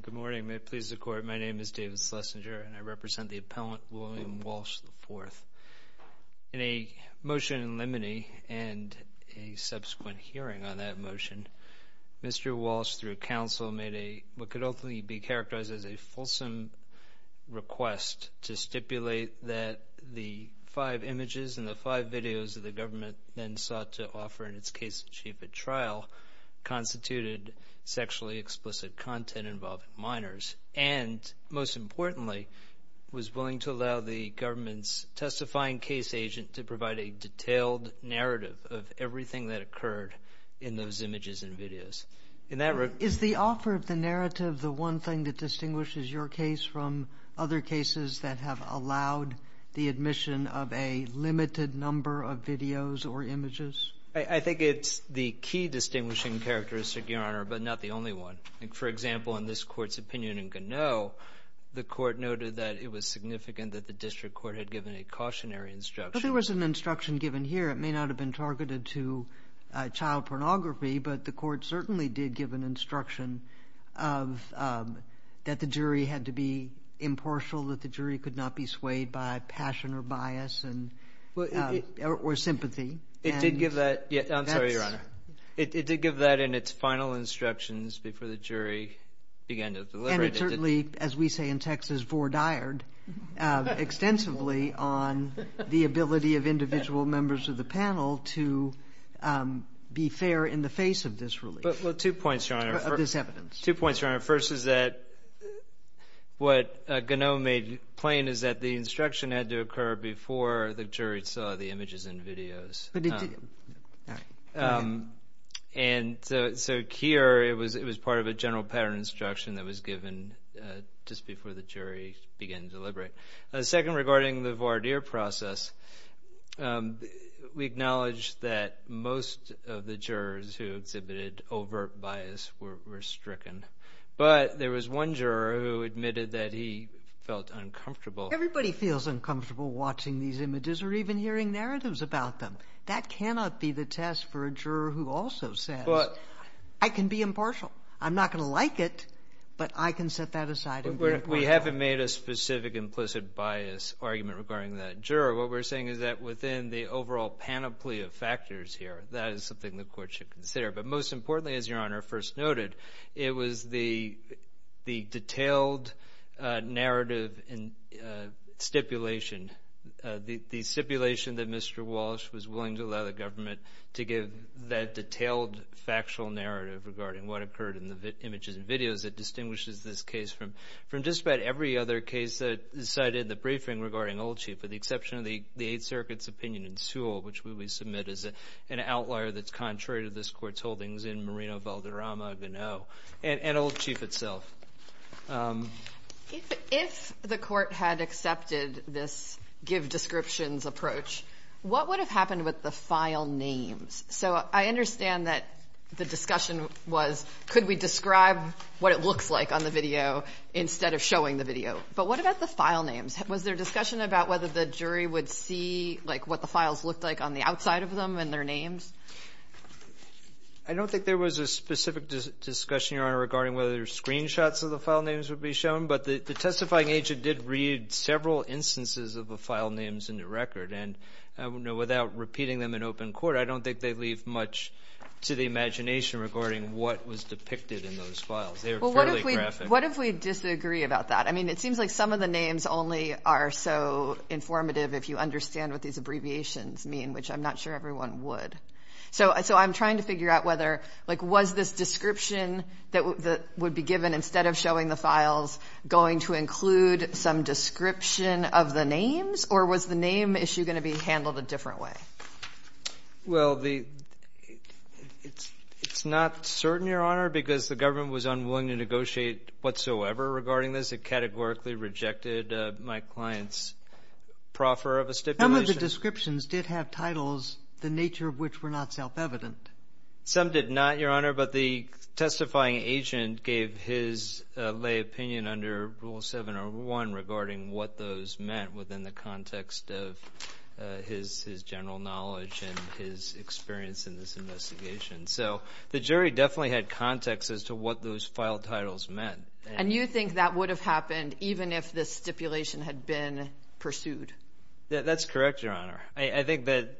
Good morning. May it please the Court, my name is David Schlesinger and I represent the appellant William Walsh, IV. In a motion in limine and a subsequent hearing on that motion, Mr. Walsh, through counsel, made what could ultimately be characterized as a fulsome request to stipulate that the five images and the five videos that the government then sought to offer in its case in chief at trial constituted sexually explicit content involving minors and, most importantly, was willing to allow the government's testifying case agent to provide a detailed narrative of everything that occurred in those images and videos. In that regard Is the offer of the narrative the one thing that distinguishes your case from other cases that have allowed the admission of a limited number of videos or images? I think it's the key distinguishing characteristic, Your Honor, but not the only one. For example, in this Court's opinion in Gannot, the Court noted that it was significant that the district court had given a cautionary instruction But there was an instruction given here. It may not have been targeted to child pornography, but the Court certainly did give an instruction of that the jury had to be impartial, that the jury could not be swayed by passion or bias or sympathy. It did give that. I'm sorry, Your Honor. It did give that in its final instructions before the jury began to deliberate. And it certainly, as we say in Texas, fore-dyed extensively on the ability of individual members of the panel to be fair in the face of this relief. Well, two points, Your Honor. Of this evidence. Two points, Your Honor. First is that what Gannot made plain is that the instruction had to occur before the jury saw the images and videos. And so here it was part of a general pattern instruction that was given just before the jury began to deliberate. Second, regarding the voir dire process, we acknowledge that most of the jurors who exhibited overt bias were stricken. But there was one juror who admitted that he felt uncomfortable. Everybody feels uncomfortable watching these images or even hearing narratives about them. That cannot be the test for a juror who also says, I can be impartial. I'm not going to We haven't made a specific implicit bias argument regarding that juror. What we're saying is that within the overall panoply of factors here, that is something the court should consider. But most importantly, as Your Honor first noted, it was the detailed narrative and stipulation, the stipulation that Mr. Walsh was willing to allow the government to give that detailed factual narrative regarding what occurred in the images and videos that distinguishes this case from just about every other case that is cited in the briefing regarding Old Chief, with the exception of the Eighth Circuit's opinion in Sewell, which we submit as an outlier that's contrary to this court's holdings in Moreno, Valderrama, and Old Chief itself. If the court had accepted this give descriptions approach, what would have happened with the file names? So I understand that the discussion was, could we describe what it looks like on the video instead of showing the video? But what about the file names? Was there discussion about whether the jury would see what the files looked like on the outside of them and their names? I don't think there was a specific discussion, Your Honor, regarding whether screenshots of the file names would be shown. But the testifying agent did read several instances of the file names in the record. And without repeating them in open court, I don't think they leave much to the imagination regarding what was depicted in those files. They were fairly graphic. What if we disagree about that? I mean, it seems like some of the names only are so informative if you understand what these abbreviations mean, which I'm not sure everyone would. So I'm trying to figure out whether, like, was this description that would be given instead of showing the files going to include some description of the names? Or was the name issue going to be handled a different way? Well, it's not certain, Your Honor, because the government was unwilling to negotiate whatsoever regarding this. It categorically rejected my client's proffer of a stipulation. Some of the descriptions did have titles, the nature of which were not self-evident. Some did not, Your Honor. But the testifying agent gave his lay opinion under Rule 701 regarding what those meant within the context of his general knowledge and his experience in this investigation. So the jury definitely had context as to what those file titles meant. And you think that would have happened even if this stipulation had been pursued? That's correct, Your Honor. I think that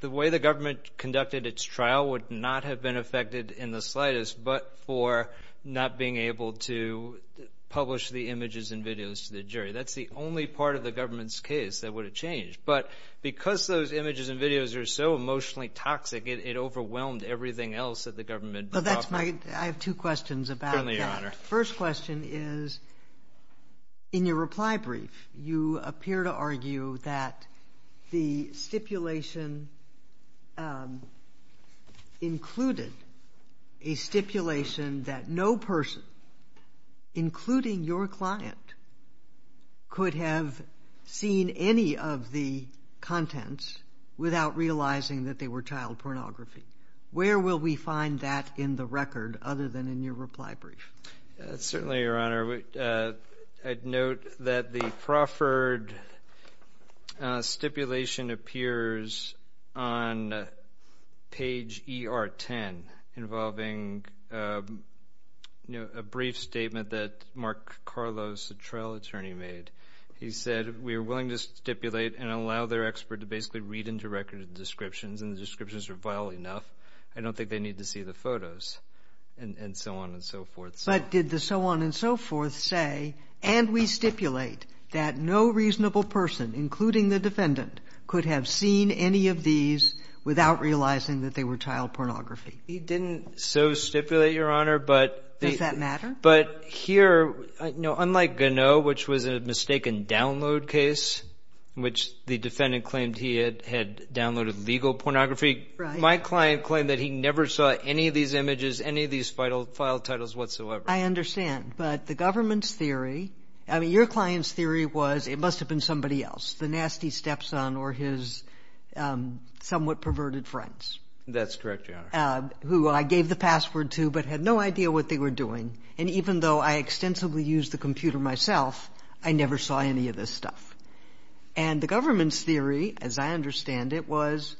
the way the government conducted its trial would not have been affected in the slightest but for not being able to publish the images and videos to the jury. That's the only part of the government's case that would have changed. But because those images and videos are so emotionally toxic, it overwhelmed everything else that the government brought forward. I have two questions about that. Certainly, Your Honor. The first question is, in your reply brief, you appear to argue that the stipulation included a stipulation that no person, including your client, could have seen any of the contents without realizing that they were child pornography. Where will we find that in the record other than in your reply brief? Certainly, Your Honor. I'd note that the Crawford stipulation appears on page ER10 involving a brief statement that Mark Carlos, the trial attorney, made. He said, we are willing to stipulate and allow their expert to basically read into record the descriptions and the descriptions are vile enough. I don't think they need to see the photos and so on and so forth. But did the so on and so forth say, and we stipulate that no reasonable person, including the defendant, could have seen any of these without realizing that they were child pornography? He didn't so stipulate, Your Honor. Does that matter? But here, unlike Ganneau, which was a mistaken download case, which the defendant claimed he had downloaded legal pornography, my client claimed that he never saw any of these images, any of these file titles whatsoever. I understand, but the government's theory, I mean, your client's theory was it must have been somebody else. The nasty stepson or his somewhat perverted friends. That's correct, Your Honor. Who I gave the password to, but had no idea what they were doing. And even though I extensively used the computer myself, I never saw any of this stuff. And the government's theory, as I understand it, was,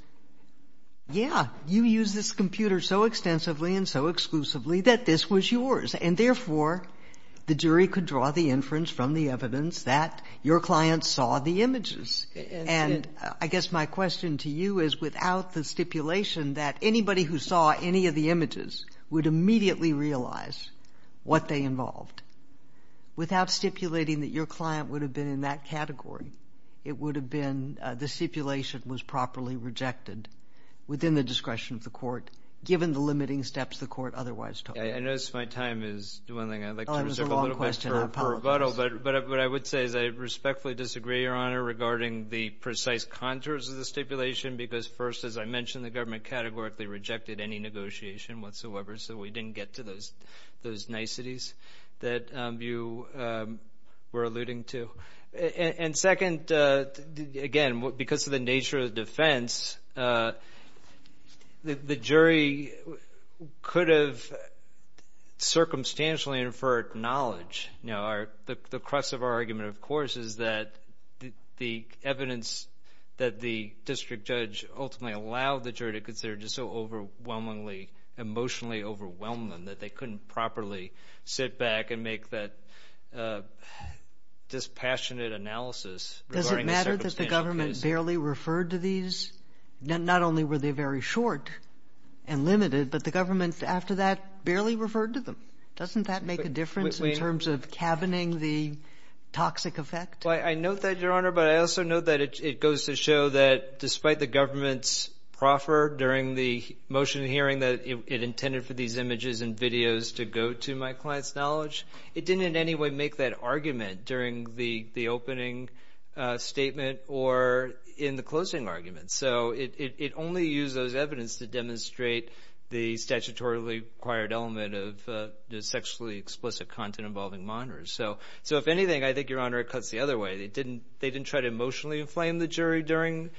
yeah, you used this computer so extensively and so exclusively that this was yours. And therefore, the jury could draw the inference from the evidence that your client saw the images. And I guess my question to you is, without the stipulation that anybody who saw any of the images would immediately realize what they involved, without stipulating that your client would have been in that category, it would have been, the stipulation was properly rejected within the discretion of the court, given the limiting steps the court otherwise took. I notice my time is dwindling. I'd like to reserve a little bit for rebuttal, but what I would say is I respectfully disagree, Your Honor, regarding the precise contours of the stipulation. Because first, as I mentioned, the government categorically rejected any negotiation whatsoever, so we didn't get to those niceties that you were alluding to. And second, again, because of the nature of the defense, the jury could have circumstantially inferred knowledge. The crux of our argument, of course, is that the evidence that the district judge ultimately allowed the jury to consider just so overwhelmingly, emotionally overwhelmed them that they couldn't properly sit back and make that dispassionate analysis regarding the circumstantial case. Does it matter that the government barely referred to these? Not only were they very short and limited, but the government, after that, barely referred to them. Doesn't that make a difference in terms of cabining the toxic effect? Well, I note that, Your Honor, but I also note that it goes to show that despite the government's proffer during the motion hearing that it intended for these images and videos to go to my client's knowledge, it didn't in any way make that argument during the opening statement or in the closing argument. So it only used those evidence to demonstrate the statutorily required element of the sexually explicit content involving monitors. So if anything, I think, Your Honor, it cuts the other way. They didn't try to emotionally inflame the jury during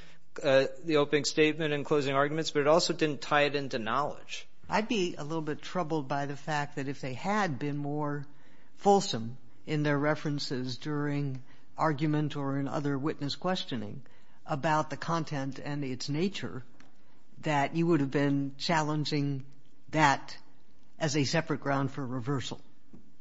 the opening statement and closing arguments, but it also didn't tie it into knowledge. I'd be a little bit troubled by the fact that if they had been more fulsome in their references during argument or in other witness questioning about the content and its nature, that you would have been challenging that as a separate ground for reversal.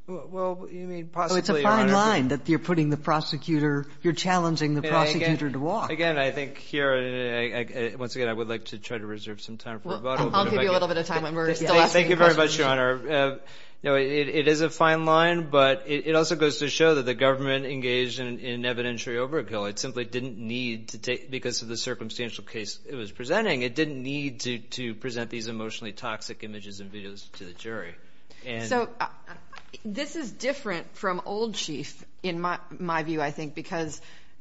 Well, you mean possibly, Your Honor. It's a fine line that you're putting the prosecutor, you're challenging the prosecutor to walk. Again, I think here, once again, I would like to try to reserve some time for a vote. I'll give you a little bit of time when we're still asking questions. Thank you very much, Your Honor. It is a fine line, but it also goes to show that the government engaged in evidentiary overkill. It simply didn't need to take, because of the circumstantial case it was presenting, it didn't need to present these emotionally toxic images and videos to the jury. So, this is different from Old Chief, in my view, I think, because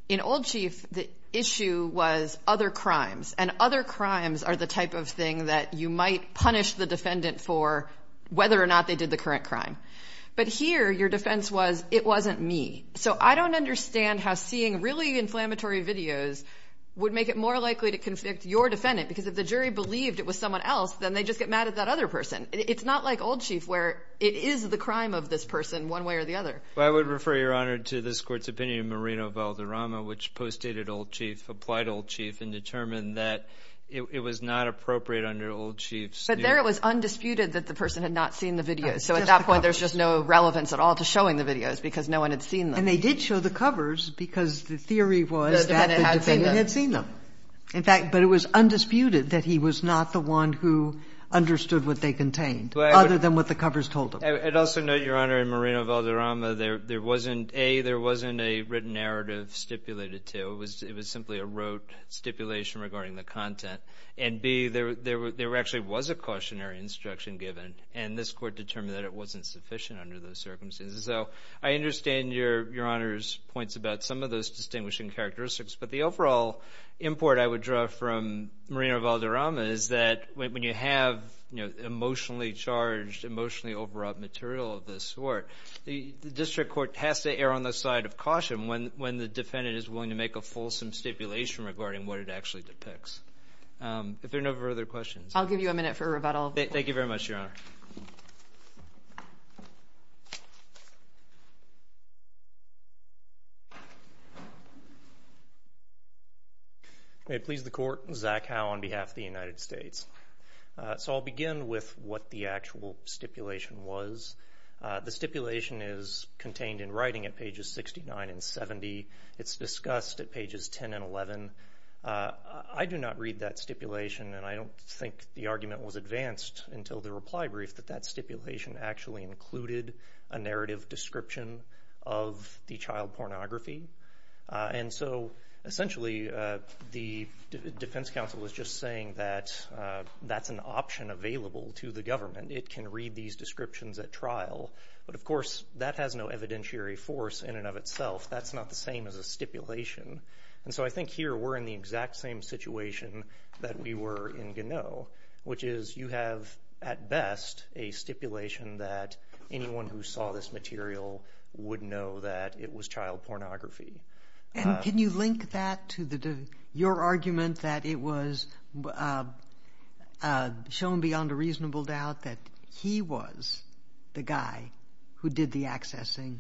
in Old Chief, the issue was other crimes, and other crimes are the type of thing that you might punish the defendant for whether or not they did the current crime. But here, your defense was, it wasn't me. So I don't understand how seeing really inflammatory videos would make it more likely to convict your defendant, because if the jury believed it was someone else, then they just get mad at that other person. It's not like Old Chief, where it is the crime of this person, one way or the other. Well, I would refer, Your Honor, to this Court's opinion in Merino-Valderrama, which postdated Old Chief, applied Old Chief, and determined that it was not appropriate under Old Chief's view. But there, it was undisputed that the person had not seen the videos. So at that point, there's just no relevance at all to showing the videos, because no one had seen them. And they did show the covers, because the theory was that the defendant had seen them. In fact, but it was undisputed that he was not the one who understood what they contained, other than what the covers told him. I'd also note, Your Honor, in Merino-Valderrama, there wasn't, A, there wasn't a written narrative stipulated to. It was simply a rote stipulation regarding the content. And, B, there actually was a cautionary instruction given, and this Court determined that it wasn't sufficient under those circumstances. So I understand Your Honor's points about some of those distinguishing characteristics, but the overall import I would draw from Merino-Valderrama is that when you have, you know, emotionally charged, emotionally overwrought material of this sort, the District Court has to err on the side of caution when the defendant is willing to make a fulsome stipulation regarding what it actually depicts. If there are no further questions. I'll give you a minute for a rebuttal. May it please the Court, Zach Howe on behalf of the United States. So I'll begin with what the actual stipulation was. The stipulation is contained in writing at pages 69 and 70. It's discussed at pages 10 and 11. I do not read that stipulation, and I don't think the argument was advanced until the reply brief that that stipulation actually included a narrative description of the child pornography. And so, essentially, the Defense Counsel was just saying that that's an option available to the government. It can read these descriptions at trial, but of course, that has no evidentiary force in and of itself. That's not the same as a stipulation. And so I think here we're in the exact same situation that we were in Ganoe, which is you have, at best, a stipulation that anyone who saw this material would know that it was child pornography. And can you link that to your argument that it was shown beyond a reasonable doubt that he was the guy who did the accessing,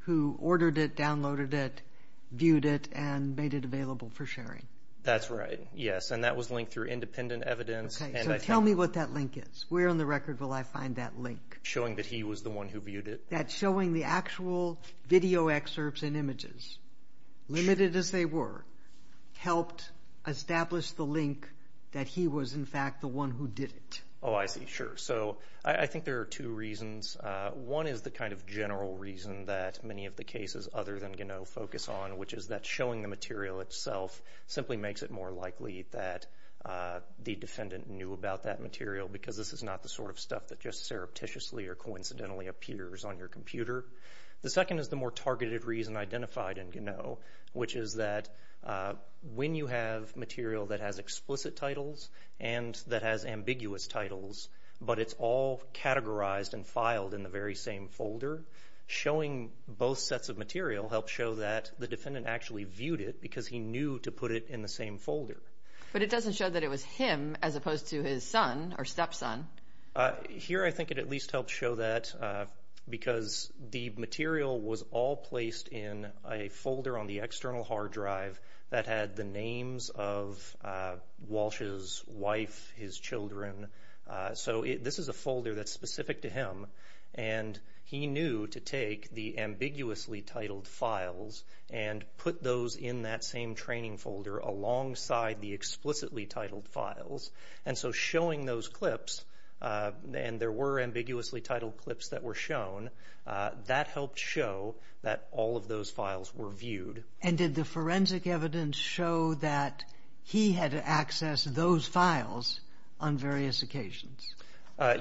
who ordered it, downloaded it, viewed it, and made it available for sharing? That's right. Yes. And that was linked through independent evidence. Okay. So tell me what that link is. Where on the record will I find that link? Showing that he was the one who viewed it. That showing the actual video excerpts and images, limited as they were, helped establish the link that he was, in fact, the one who did it. Oh, I see. Sure. So I think there are two reasons. One is the kind of general reason that many of the cases other than Ganoe focus on, which is that showing the material itself simply makes it more likely that the defendant knew about that material because this is not the sort of stuff that just surreptitiously or a computer. The second is the more targeted reason identified in Ganoe, which is that when you have material that has explicit titles and that has ambiguous titles, but it's all categorized and filed in the very same folder, showing both sets of material helps show that the defendant actually viewed it because he knew to put it in the same folder. But it doesn't show that it was him as opposed to his son or stepson. Here, I think it at least helps show that because the material was all placed in a folder on the external hard drive that had the names of Walsh's wife, his children. So this is a folder that's specific to him and he knew to take the ambiguously titled files and put those in that same training folder alongside the explicitly titled files. And so showing those clips, and there were ambiguously titled clips that were shown, that helped show that all of those files were viewed. And did the forensic evidence show that he had access to those files on various occasions?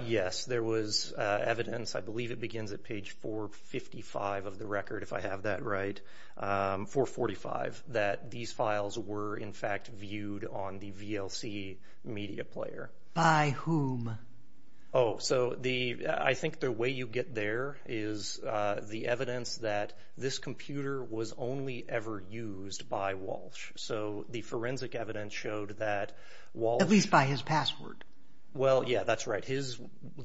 Yes, there was evidence, I believe it begins at page 455 of the record if I have that right, 445, that these files were in fact viewed on the VLC media player. By whom? Oh, so I think the way you get there is the evidence that this computer was only ever used by Walsh. So the forensic evidence showed that Walsh... At least by his password. Well, yeah, that's right. His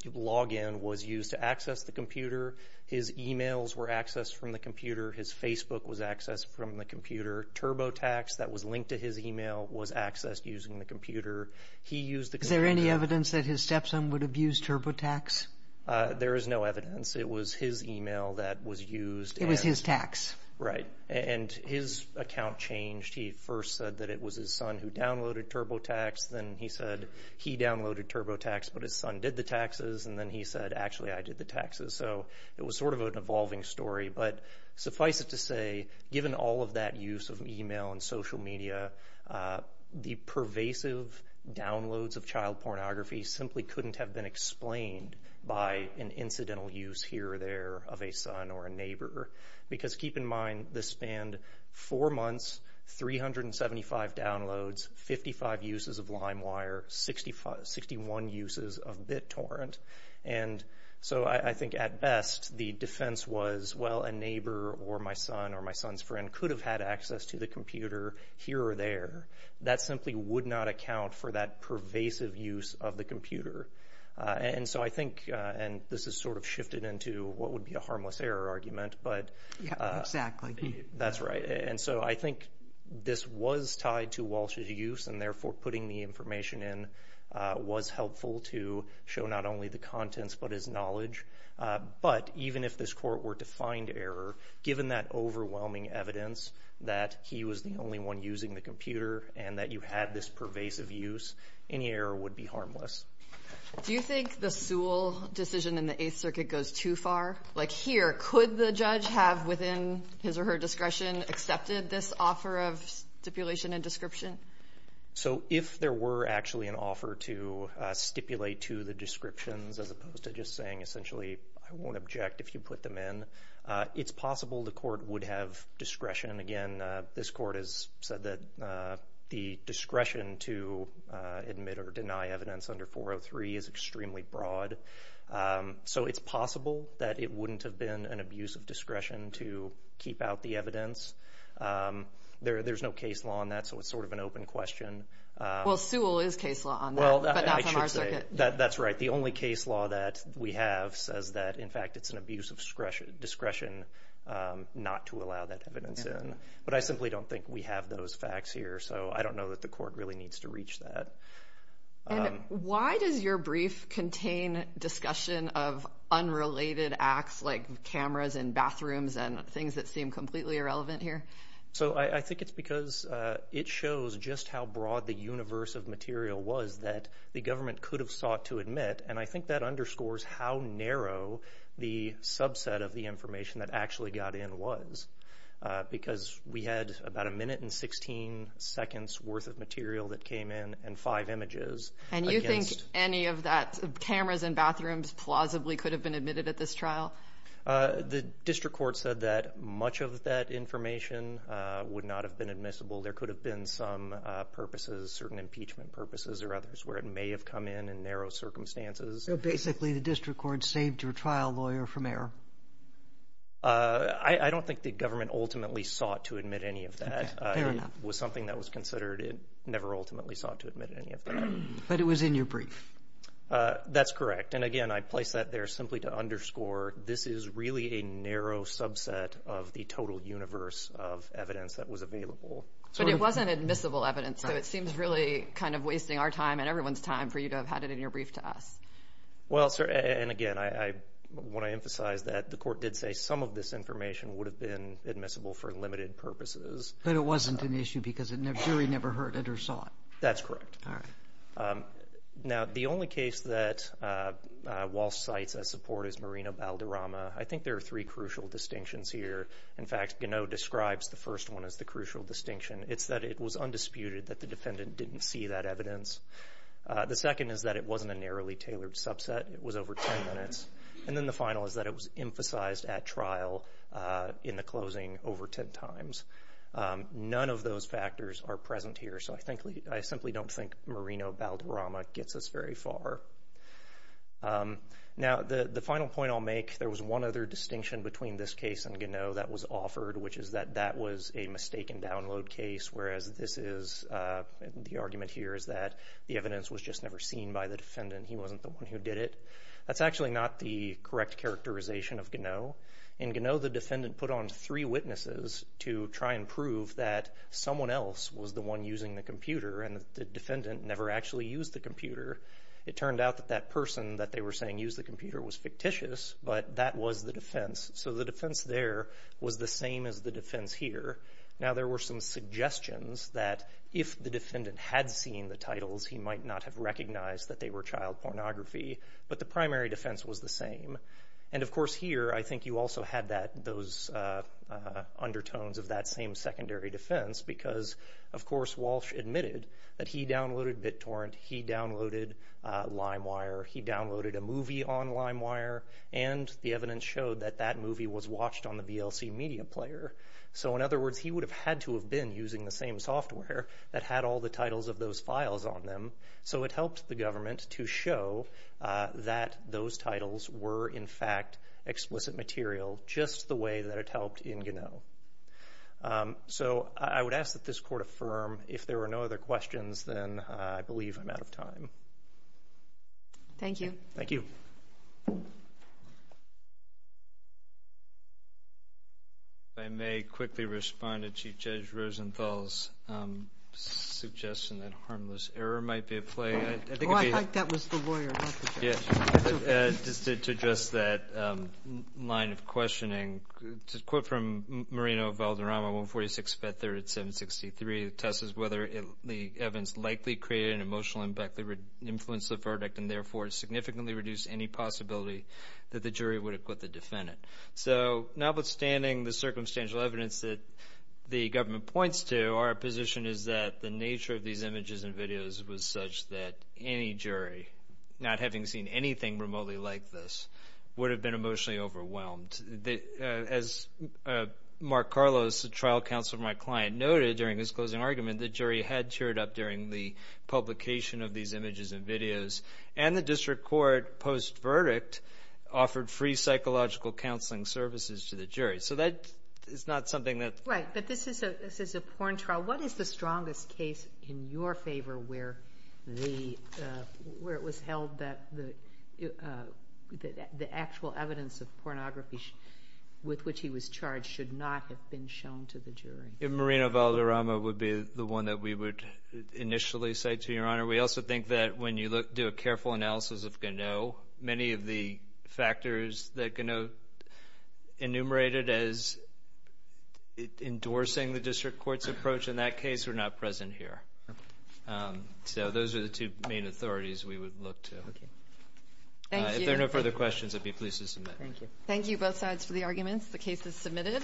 login was used to access the computer. His emails were accessed from the computer. His Facebook was accessed from the computer. TurboTax that was linked to his email was accessed using the computer. Is there any evidence that his stepson would have used TurboTax? There is no evidence. It was his email that was used. It was his tax. Right. And his account changed. He first said that it was his son who downloaded TurboTax. Then he said he downloaded TurboTax, but his son did the taxes. And then he said, actually, I did the taxes. So it was sort of an evolving story. But suffice it to say, given all of that use of email and social media, the pervasive downloads of child pornography simply couldn't have been explained by an incidental use here or there of a son or a neighbor. Because keep in mind, this spanned four months, 375 downloads, 55 uses of LimeWire, 61 uses of BitTorrent. And so I think at best, the defense was, well, a neighbor or my son or my son's friend could have had access to the computer here or there. That simply would not account for that pervasive use of the computer. And so I think, and this is sort of shifted into what would be a harmless error argument. Yeah, exactly. That's right. And so I think this was tied to Walsh's use, and therefore putting the information in was helpful to show not only the contents but his knowledge. But even if this court were to find error, given that overwhelming evidence that he was the only one using the computer and that you had this pervasive use, any error would be harmless. Do you think the Sewell decision in the Eighth Circuit goes too far? Like here, could the judge have, within his or her discretion, accepted this offer of stipulation and description? So if there were actually an offer to stipulate to the descriptions as opposed to just saying essentially, I won't object if you put them in, it's possible the court would have discretion. Again, this court has said that the discretion to admit or deny evidence under 403 is extremely broad. So it's possible that it wouldn't have been an abuse of discretion to keep out the evidence. There's no case law on that, so it's sort of an open question. Well, Sewell is case law on that, but not from our circuit. That's right. The only case law that we have says that, in fact, it's an abuse of discretion not to allow that evidence in. But I simply don't think we have those facts here. So I don't know that the court really needs to reach that. And why does your brief contain discussion of unrelated acts like cameras in bathrooms and things that seem completely irrelevant here? So I think it's because it shows just how broad the universe of material was that the government could have sought to admit. And I think that underscores how narrow the subset of the information that actually got in was because we had about a minute and 16 seconds worth of material that came in and five images. And you think any of that, cameras in bathrooms, plausibly could have been admitted at this trial? The district court said that much of that information would not have been admissible. There could have been some purposes, certain impeachment purposes or others where it may have come in in narrow circumstances. So basically the district court saved your trial lawyer from error? I don't think the government ultimately sought to admit any of that. It was something that was considered. It never ultimately sought to admit any of that. But it was in your brief. That's correct. And again, I place that there simply to underscore this is really a narrow subset of the total universe of evidence that was available. But it wasn't admissible evidence, so it seems really kind of wasting our time and everyone's time for you to have had it in your brief to us. And again, I want to emphasize that the court did say some of this information would have been admissible for limited purposes. But it wasn't an issue because the jury never heard it or saw it? That's correct. All right. Now, the only case that Walsh cites as support is Marina Balderrama. I think there are three crucial distinctions here. In fact, Gannot describes the first one as the crucial distinction. It's that it was undisputed that the defendant didn't see that evidence. The second is that it wasn't a narrowly tailored subset. It was over 10 minutes. And then the final is that it was emphasized at trial in the closing over 10 times. None of those factors are present here. So I simply don't think Marina Balderrama gets us very far. Now, the final point I'll make, there was one other distinction between this case and Gannot that was offered, which is that that was a mistaken download case, whereas this is the argument here is that the evidence was just never seen by the defendant. He wasn't the one who did it. That's actually not the correct characterization of Gannot. In Gannot, the defendant put on three witnesses to try and prove that someone else was the one using the computer and the defendant never actually used the computer. It turned out that that person that they were saying used the computer was fictitious, but that was the defense. So the defense there was the same as the defense here. Now, there were some suggestions that if the defendant had seen the titles, he might not have recognized that they were child pornography, but the primary defense was the same. And, of course, here I think you also had those undertones of that same secondary defense because, of course, Walsh admitted that he downloaded BitTorrent, he downloaded LimeWire, he downloaded a movie on LimeWire, and the evidence showed that that movie was watched on the VLC media player. So, in other words, he would have had to have been using the same software that had all the titles of those files on them. So it helped the government to show that those titles were, in fact, explicit material just the way that it helped in Gannot. So I would ask that this court affirm. If there are no other questions, then I believe I'm out of time. Thank you. Thank you. I may quickly respond to Chief Judge Rosenthal's suggestion that harmless error might be at play. I think it would be... Oh, I thought that was the lawyer, not the judge. Just to address that line of questioning, to quote from Marino Valderrama, 146-537-63, the test is whether the evidence likely created an emotional impact that would influence the verdict and therefore significantly reduce any possibility that the jury would acquit the defendant. So notwithstanding the circumstantial evidence that the government points to, our position is that the nature of these images and videos was such that any jury, not having seen anything remotely like this, would have been emotionally overwhelmed. As Mark Carlos, the trial counsel for my client, noted during his closing argument, the jury had cheered up during the publication of these images and videos and the district court, post-verdict, offered free psychological counselling services to the jury. So that is not something that... Right, but this is a porn trial. What is the strongest case in your favour where it was held that the actual evidence of pornography with which he was charged should not have been shown to the jury? Marino Valderrama would be the one that we would initially cite to you, Your Honour. We also think that when you do a careful analysis of Ganot, many of the factors that Ganot enumerated as endorsing the district court's approach in that case are not present here. So those are the two main authorities we would look to. If there are no further questions, I'd be pleased to submit. Thank you. Thank you, both sides, for the arguments. The case is submitted.